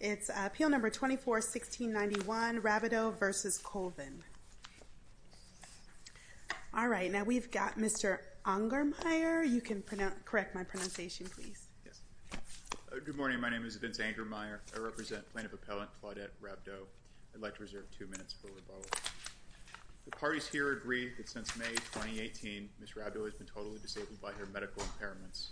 It's appeal number 24-1691, Rabdeau v. Colvin. All right, now we've got Mr. Ungermeyer. You can correct my pronunciation, please. Good morning. My name is Vince Ungermeyer. I represent Plaintiff Appellant Claudette Rabdeau. I'd like to reserve two minutes for rebuttal. The parties here agree that since May 2018, Ms. Rabdeau has been totally disabled by her medical impairments.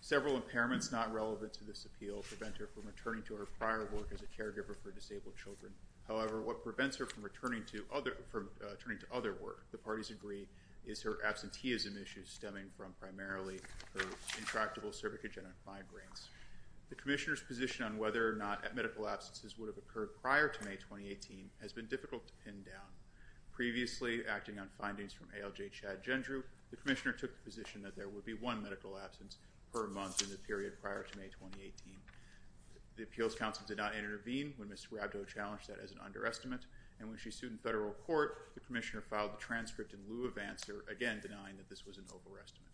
Several impairments not relevant to this appeal prevent her from returning to her prior work as a caregiver for disabled children. However, what prevents her from returning to other work, the parties agree, is her absenteeism issues stemming from primarily her intractable cervicogenic migraines. The Commissioner's position on whether or not medical absences would have occurred prior to May 2018 has been difficult to pin down. Previously, acting on findings from ALJ Chad Gendrew, the Commissioner took the position that there would be one medical absence per month in the period prior to May 2018. The Appeals Council did not intervene when Ms. Rabdeau challenged that as an underestimate, and when she sued in federal court, the Commissioner filed the transcript in lieu of answer, again denying that this was an overestimate.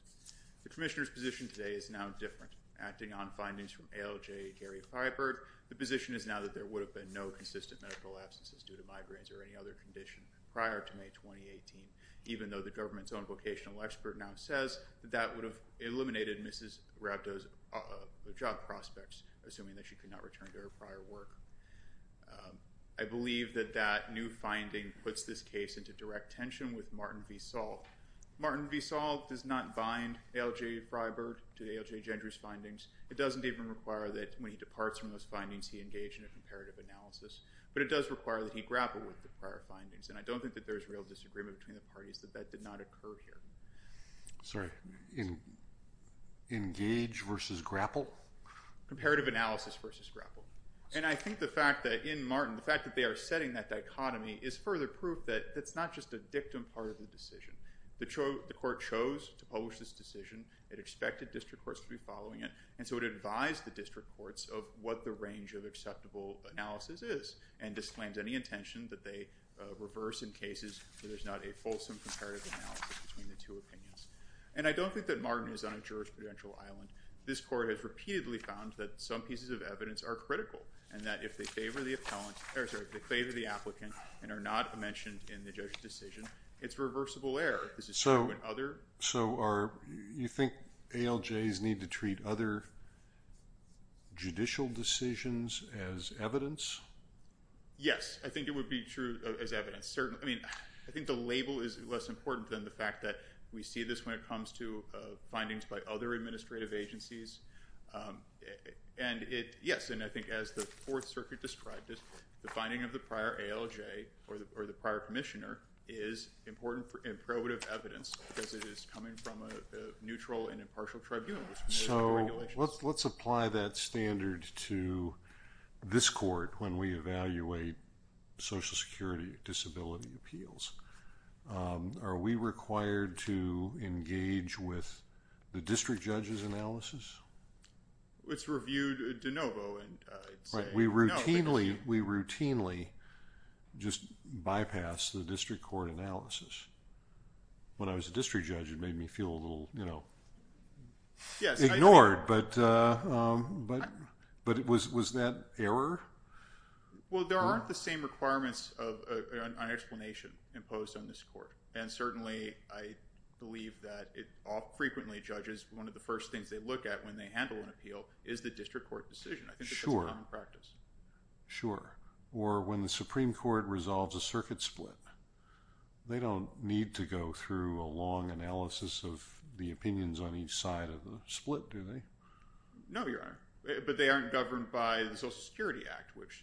The Commissioner's position today is now different. Acting on findings from ALJ Gary Fyberg, the position is now that there would have been no consistent medical absences due to migraines or any other condition prior to May 2018, even though the government's own vocational expert now says that that would have eliminated Ms. Rabdeau's job prospects, assuming that she could not return to her prior work. I believe that that new finding puts this case into direct tension with Martin V. Saul. Martin V. Saul does not bind ALJ Fyberg to ALJ Gendrew's findings. It doesn't even require that when he departs from those findings, he engage in a comparative analysis, but it does require that he grapple with the prior findings, and I don't think that there is real disagreement between the parties that that did not occur here. Sorry, engage versus grapple? Comparative analysis versus grapple. And I think the fact that in Martin, the fact that they are setting that dichotomy is further proof that it's not just a dictum part of the decision. The court chose to publish this decision. It expected district courts to be following it, and so it advised the district courts of what the range of acceptable analysis is and disclaimed any intention that they reverse in cases where there's not a fulsome comparative analysis between the two opinions. And I don't think that Martin is on a jurisprudential island. This court has repeatedly found that some pieces of evidence are critical and that if they favor the applicant and are not mentioned in the judge's decision, it's reversible error. So you think ALJs need to treat other judicial decisions as evidence? Yes, I think it would be true as evidence. I mean, I think the label is less important than the fact that we see this when it comes to findings by other administrative agencies. And yes, and I think as the Fourth Circuit described it, the finding of the prior ALJ or the prior commissioner is important and probative evidence because it is coming from a neutral and impartial tribunal. So let's apply that standard to this court when we evaluate Social Security disability appeals. Are we required to engage with the district judge's analysis? It's reviewed de novo. We routinely just bypass the district court analysis. When I was a district judge, it made me feel a little ignored, but was that error? Well, there aren't the same requirements of an explanation imposed on this court. And certainly, I believe that frequently judges, one of the first things they look at when they handle an appeal is the district court decision. I think that's a common practice. Sure. Or when the Supreme Court resolves a circuit split, they don't need to go through a long analysis of the opinions on each side of the split, do they? No, Your Honor. But they aren't governed by the Social Security Act, which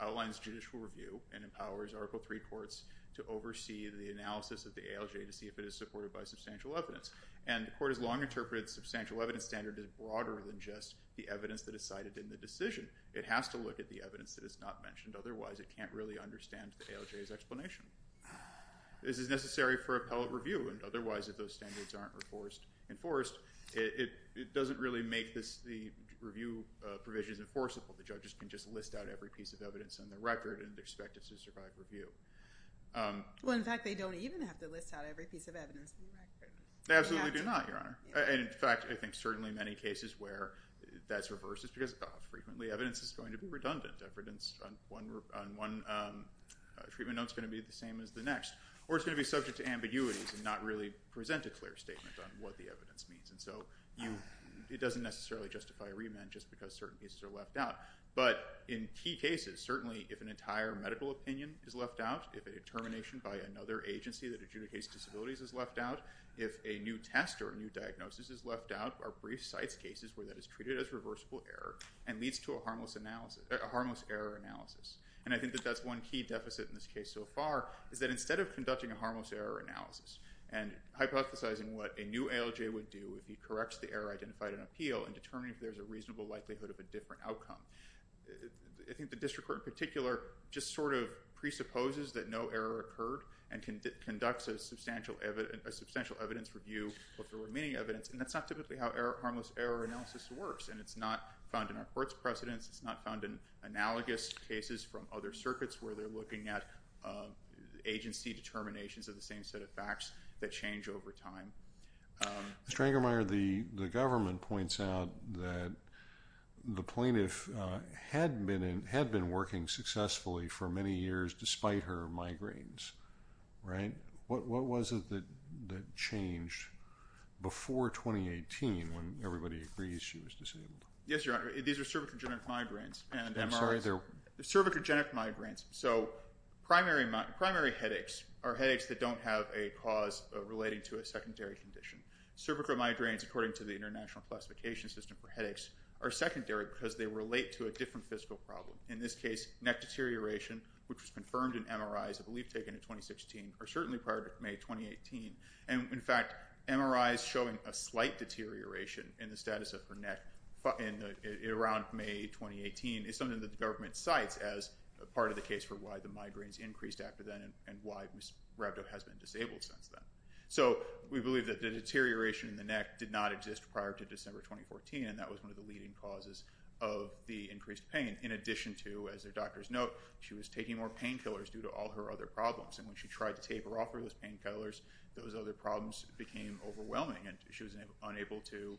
outlines judicial review and empowers Article III courts to oversee the analysis of the ALJ to see if it is supported by substantial evidence. And the court has long interpreted the substantial evidence standard as broader than just the evidence that is cited in the decision. It has to look at the evidence that is not mentioned. Otherwise, it can't really understand the ALJ's explanation. This is necessary for appellate review. And otherwise, if those standards aren't enforced, it doesn't really make the review provisions enforceable. The judges can just list out every piece of evidence on the record and expect it to survive review. Well, in fact, they don't even have to list out every piece of evidence on the record. They absolutely do not, Your Honor. In fact, I think certainly many cases where that's reversed is because, oh, frequently evidence is going to be redundant. Evidence on one treatment note is going to be the same as the next. Or it's going to be subject to ambiguities and not really present a clear statement on what the evidence means. And so it doesn't necessarily justify a remand just because certain pieces are left out. But in key cases, certainly if an entire medical opinion is left out, if a determination by another agency that adjudicates disabilities is left out, if a new test or a new diagnosis is left out, our brief cites cases where that is treated as reversible error and leads to a harmless error analysis. And I think that that's one key deficit in this case so far is that instead of conducting a harmless error analysis and hypothesizing what a new ALJ would do if he corrects the error identified in appeal and determining if there's a reasonable likelihood of a different outcome, I think the district court in particular just sort of presupposes that no error occurred and conducts a substantial evidence review of the remaining evidence. And that's not typically how harmless error analysis works. And it's not found in our court's precedents. It's not found in analogous cases from other circuits where they're looking at agency determinations of the same set of facts that change over time. Mr. Engermeyer, the government points out that the plaintiff had been working successfully for many years despite her migraines, right? What was it that changed before 2018 when everybody agrees she was disabled? Yes, Your Honor. These are cervicogenic migraines and MRIs. I'm sorry. Cervicogenic migraines. So primary headaches are headaches that don't have a cause relating to a secondary condition. Cervicomigraines, according to the International Classification System for Headaches, are secondary because they relate to a different physical problem. In this case, neck deterioration, which was confirmed in MRIs, I believe taken in 2016, or certainly prior to May 2018. And, in fact, MRIs showing a slight deterioration in the status of her neck around May 2018 is something that the government cites as part of the case for why the migraines increased after then and why Rhabdo has been disabled since then. So we believe that the deterioration in the neck did not exist prior to December 2014. And that was one of the leading causes of the increased pain. In addition to, as the doctors note, she was taking more painkillers due to all her other problems. And when she tried to taper off of those painkillers, those other problems became overwhelming, and she was unable to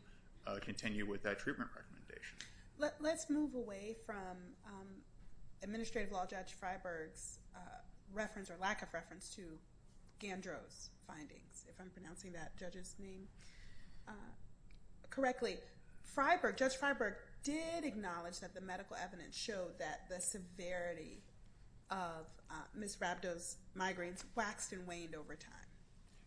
continue with that treatment recommendation. Let's move away from Administrative Law Judge Freiberg's reference or lack of reference to Gandro's findings, if I'm pronouncing that judge's name correctly. Judge Freiberg did acknowledge that the medical evidence showed that the severity of Ms. Rhabdo's migraines waxed and waned over time.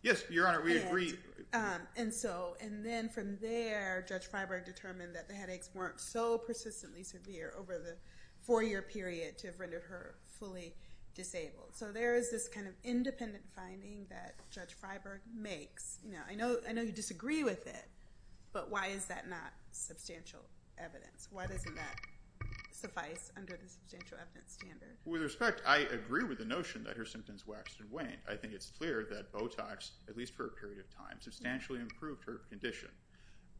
Yes, Your Honor, we agree. And then from there, Judge Freiberg determined that the headaches weren't so persistently severe over the four-year period to have rendered her fully disabled. So there is this kind of independent finding that Judge Freiberg makes. I know you disagree with it, but why is that not substantial evidence? Why doesn't that suffice under the substantial evidence standard? With respect, I agree with the notion that her symptoms waxed and waned. I think it's clear that Botox, at least for a period of time, substantially improved her condition.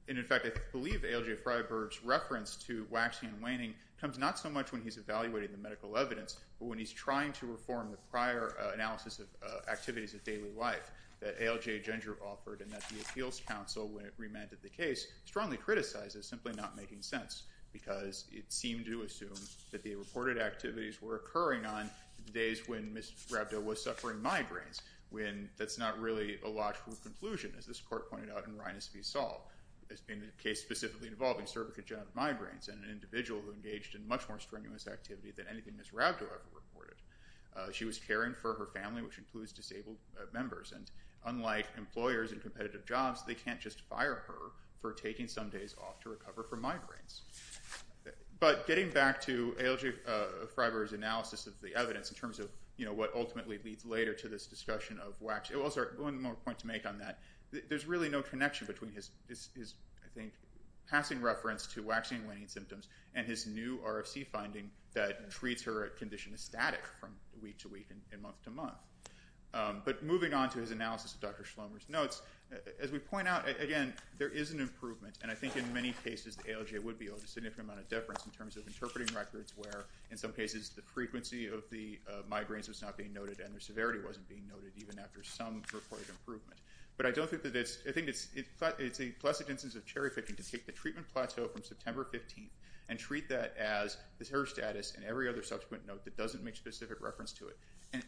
And, in fact, I believe A.L.J. Freiberg's reference to waxing and waning comes not so much when he's evaluating the medical evidence, but when he's trying to reform the prior analysis of activities of daily life that A.L.J. Gendro offered, and that the Appeals Council, when it remanded the case, strongly criticized as simply not making sense, because it seemed to assume that the reported activities were occurring on the days when Ms. Rhabdo was suffering migraines, when that's not really a logical conclusion, as this court pointed out in Rhinus v. Saul. It's been a case specifically involving cervicogenic migraines, and an individual who engaged in much more strenuous activity than anything Ms. Rhabdo ever reported. She was caring for her family, which includes disabled members, and unlike employers in competitive jobs, they can't just fire her for taking some days off to recover from migraines. But getting back to A.L.J. Freiberg's analysis of the evidence in terms of what ultimately leads later to this discussion of waxing, one more point to make on that, there's really no connection between his passing reference to waxing and waning symptoms and his new RFC finding that treats her condition as static from week to week and month to month. But moving on to his analysis of Dr. Schlomer's notes, as we point out, again, there is an improvement, and I think in many cases A.L.J. would be owed a significant amount of deference in terms of interpreting records where in some cases the frequency of the migraines was not being noted and their severity wasn't being noted even after some reported improvement. But I think it's a pleasant instance of cherry-picking to take the treatment plateau from September 15th and treat that as her status and every other subsequent note that doesn't make specific reference to it.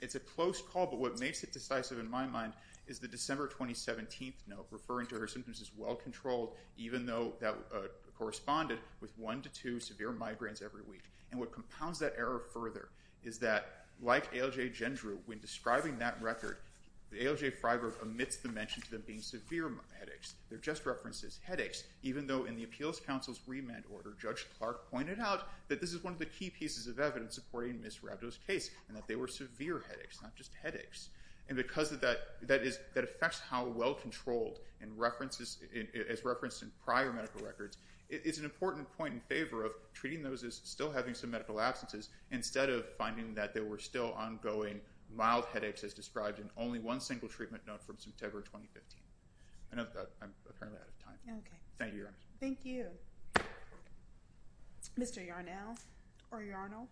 It's a close call, but what makes it decisive in my mind is the December 2017th note referring to her symptoms as well-controlled even though that corresponded with one to two severe migraines every week. And what compounds that error further is that, like A.L.J. Gendreau, when describing that record, A.L.J. Freiberg omits the mention of them being severe headaches. They're just references. Headaches. Even though in the Appeals Council's remand order, Judge Clark pointed out that this is one of the key pieces of evidence supporting Ms. Rabdo's case and that they were severe headaches, not just headaches. And because that affects how well-controlled as referenced in prior medical records, it's an important point in favor of treating those as still having some medical absences instead of finding that there were still ongoing mild headaches as described in only one single treatment note from September 2015. I know that I'm apparently out of time. Thank you, Your Honor. Thank you. Mr. Yarnell or Yarnell.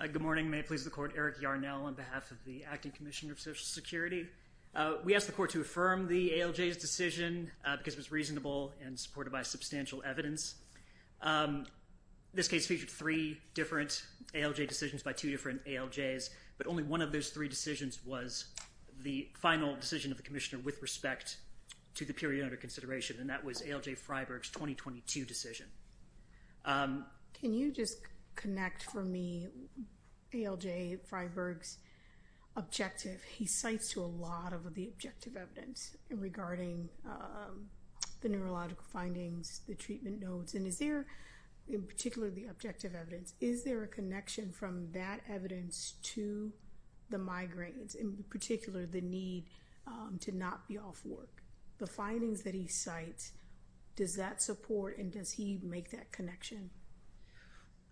Good morning. May it please the Court, Eric Yarnell on behalf of the Acting Commissioner of Social Security. We asked the Court to affirm the A.L.J.'s decision because it was reasonable and supported by substantial evidence. This case featured three different A.L.J. decisions by two different A.L.J.'s, but only one of those three decisions was the final decision of the Commissioner with respect to the period under consideration, and that was A.L.J. Freiberg's 2022 decision. Can you just connect for me A.L.J. Freiberg's objective? He cites to a lot of the objective evidence regarding the neurological findings, the treatment notes, and is there, in particular, the objective evidence. Is there a connection from that evidence to the migraines, in particular, the need to not be off work? The findings that he cites, does that support and does he make that connection?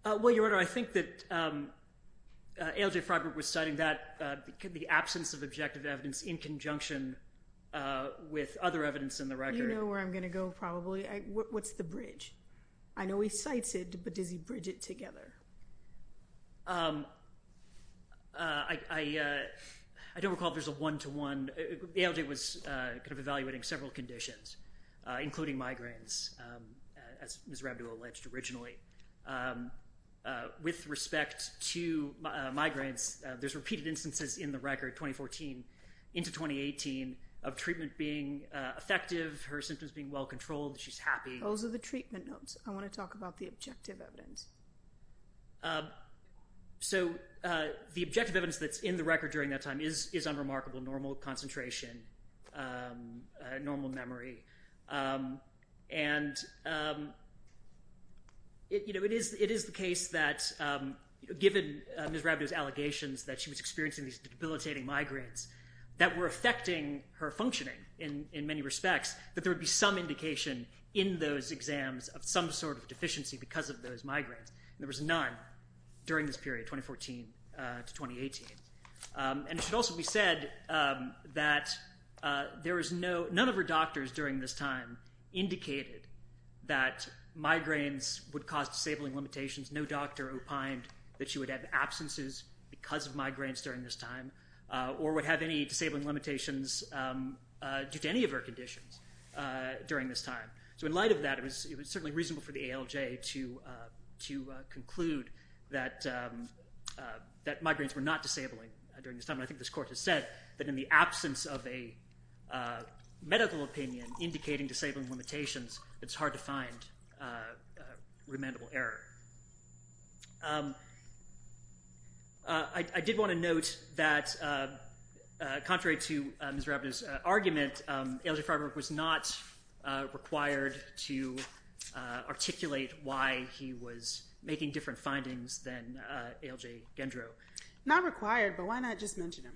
Well, Your Honor, I think that A.L.J. Freiberg was citing the absence of objective evidence in conjunction with other evidence in the record. You know where I'm going to go probably. What's the bridge? I know he cites it, but does he bridge it together? I don't recall if there's a one-to-one. A.L.J. was kind of evaluating several conditions, including migraines, as Ms. Rabideau alleged originally. With respect to migraines, there's repeated instances in the record, 2014 into 2018, of treatment being effective, her symptoms being well-controlled, she's happy. Those are the treatment notes. I want to talk about the objective evidence. So the objective evidence that's in the record during that time is unremarkable, normal concentration, normal memory. And it is the case that, given Ms. Rabideau's allegations that she was experiencing these debilitating migraines, that were affecting her functioning in many respects, that there would be some indication in those exams of some sort of deficiency because of those migraines. There was none during this period, 2014 to 2018. And it should also be said that none of her doctors during this time indicated that migraines would cause disabling limitations. No doctor opined that she would have absences because of migraines during this time, or would have any disabling limitations due to any of her conditions during this time. So in light of that, it was certainly reasonable for the A.L.J. to conclude that migraines were not disabling during this time. And I think this Court has said that in the absence of a medical opinion indicating disabling limitations, it's hard to find remandable error. I did want to note that, contrary to Ms. Rabideau's argument, A.L.J. Freiberg was not required to articulate why he was making different findings than A.L.J. Gendro. Not required, but why not just mention him?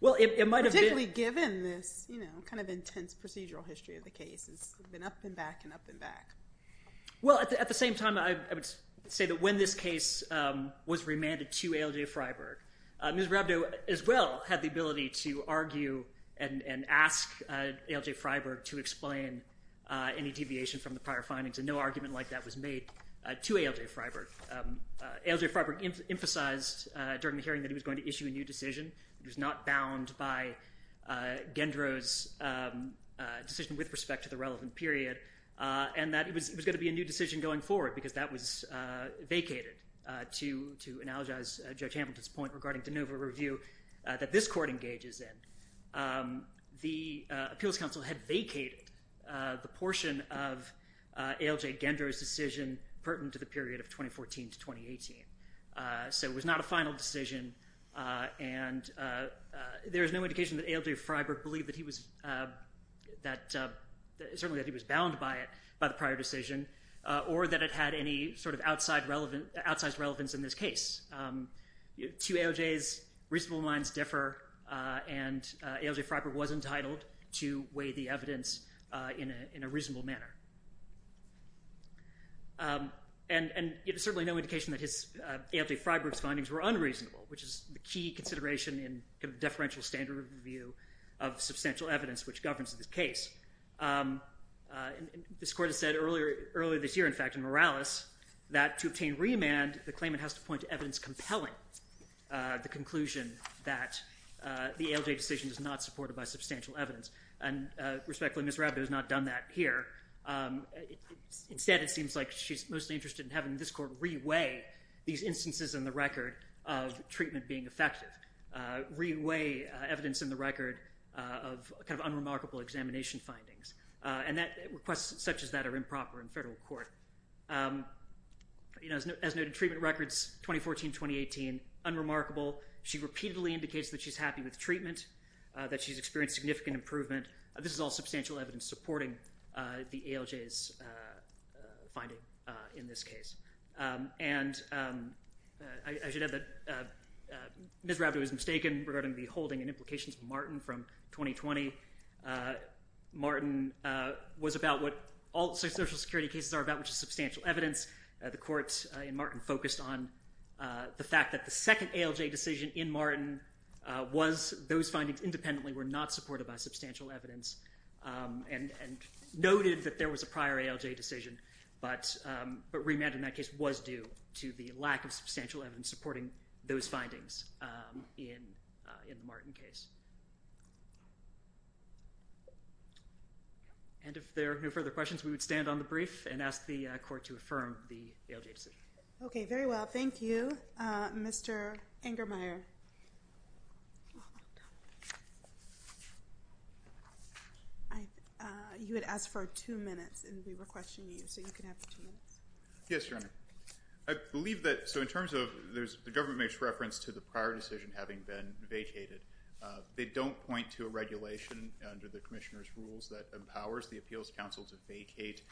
Particularly given this intense procedural history of the case. It's been up and back and up and back. Well, at the same time, I would say that when this case was remanded to A.L.J. Freiberg, Ms. Rabideau as well had the ability to argue and ask A.L.J. Freiberg to explain any deviation from the prior findings, and no argument like that was made to A.L.J. Freiberg. A.L.J. Freiberg emphasized during the hearing that he was going to issue a new decision. It was not bound by Gendro's decision with respect to the relevant period, and that it was going to be a new decision going forward because that was vacated, to analogize Judge Hamilton's point regarding de novo review that this Court engages in. The Appeals Council had vacated the portion of A.L.J. Gendro's decision pertinent to the period of 2014 to 2018. So it was not a final decision, and there is no indication that A.L.J. Freiberg believed that he was bound by it, by the prior decision, or that it had any sort of outside relevance in this case. Two A.L.J.'s reasonable minds differ, and A.L.J. Freiberg was entitled to weigh the evidence in a reasonable manner. And there's certainly no indication that A.L.J. Freiberg's findings were unreasonable, which is the key consideration in deferential standard review of substantial evidence which governs this case. This Court has said earlier this year, in fact, in Morales, that to obtain remand, the claimant has to point to evidence compelling the conclusion that the A.L.J. decision is not supported by substantial evidence. And respectfully, Ms. Rabideau has not done that here. Instead, it seems like she's mostly interested in having this Court re-weigh these instances in the record of treatment being effective, re-weigh evidence in the record of kind of unremarkable examination findings. And requests such as that are improper in federal court. As noted, treatment records 2014-2018, unremarkable. She repeatedly indicates that she's happy with treatment, that she's experienced significant improvement. This is all substantial evidence supporting the A.L.J.'s finding in this case. And I should add that Ms. Rabideau is mistaken regarding the holding and implications of Martin from 2020. Martin was about what all social security cases are about, which is substantial evidence. The Court in Martin focused on the fact that the second A.L.J. decision in Martin was those findings independently were not supported by substantial evidence. And noted that there was a prior A.L.J. decision, but remand in that case was due to the lack of substantial evidence supporting those findings in the Martin case. And if there are no further questions, we would stand on the brief and ask the Court to affirm the A.L.J. decision. Okay, very well. Thank you, Mr. Engermeyer. You had asked for two minutes, and we were questioning you, so you can have two minutes. Yes, Your Honor. I believe that, so in terms of, the government makes reference to the prior decision having been vacated. They don't point to a regulation under the Commissioner's rules that empowers the Appeals Council to vacate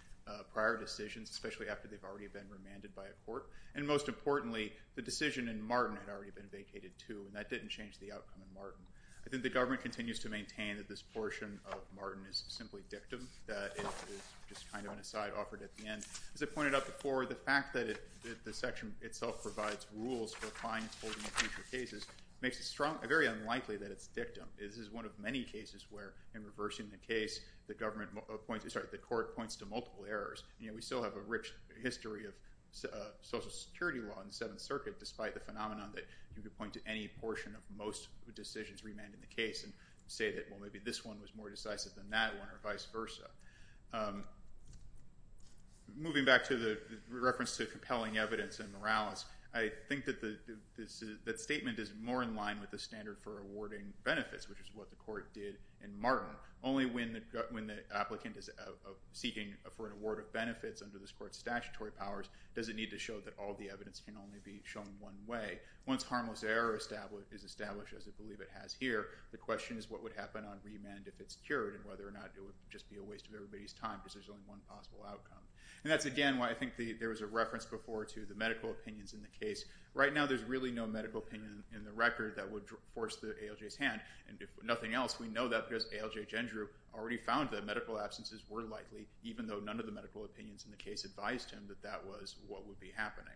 prior decisions, especially after they've already been remanded by a court. And most importantly, the decision in Martin had already been vacated too, and that didn't change the outcome in Martin. I think the government continues to maintain that this portion of Martin is simply dictum. That is just kind of an aside offered at the end. As I pointed out before, the fact that the section itself provides rules for fine-folding of future cases makes it very unlikely that it's dictum. This is one of many cases where, in reversing the case, the court points to multiple errors. We still have a rich history of Social Security law in the Seventh Circuit, despite the phenomenon that you could point to any portion of most decisions remanded in the case and say that, well, maybe this one was more decisive than that one, or vice versa. Moving back to the reference to compelling evidence in Morales, I think that statement is more in line with the standard for awarding benefits, which is what the court did in Martin. Only when the applicant is seeking for an award of benefits under this court's statutory powers does it need to show that all the evidence can only be shown one way. Once harmless error is established, as I believe it has here, the question is what would happen on remand if it's cured, and whether or not it would just be a waste of everybody's time because there's only one possible outcome. That's, again, why I think there was a reference before to the medical opinions in the case. Right now, there's really no medical opinion in the record that would force the ALJ's hand. If nothing else, we know that because ALJ Gendre already found that medical absences were likely, even though none of the medical opinions in the case advised him that that was what would be happening.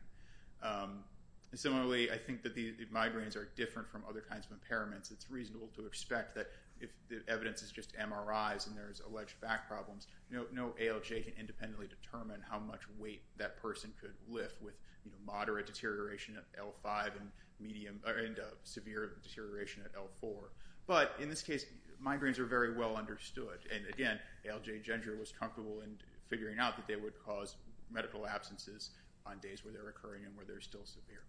Similarly, I think that the migraines are different from other kinds of impairments. It's reasonable to expect that if the evidence is just MRIs and there's alleged back problems, no ALJ can independently determine how much weight that person could lift with moderate deterioration at L5 and severe deterioration at L4. But in this case, migraines are very well understood. And again, ALJ Gendre was comfortable in figuring out that they would cause medical absences on days where they're occurring and where they're still severe.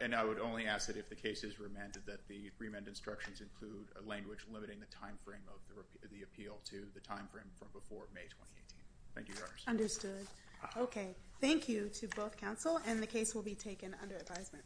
And I would only ask that if the case is remanded that the remand instructions include a language limiting the time frame of the appeal to the time frame from before May 2018. Thank you, Your Honor. Understood. Okay. Thank you to both counsel, and the case will be taken under advisement.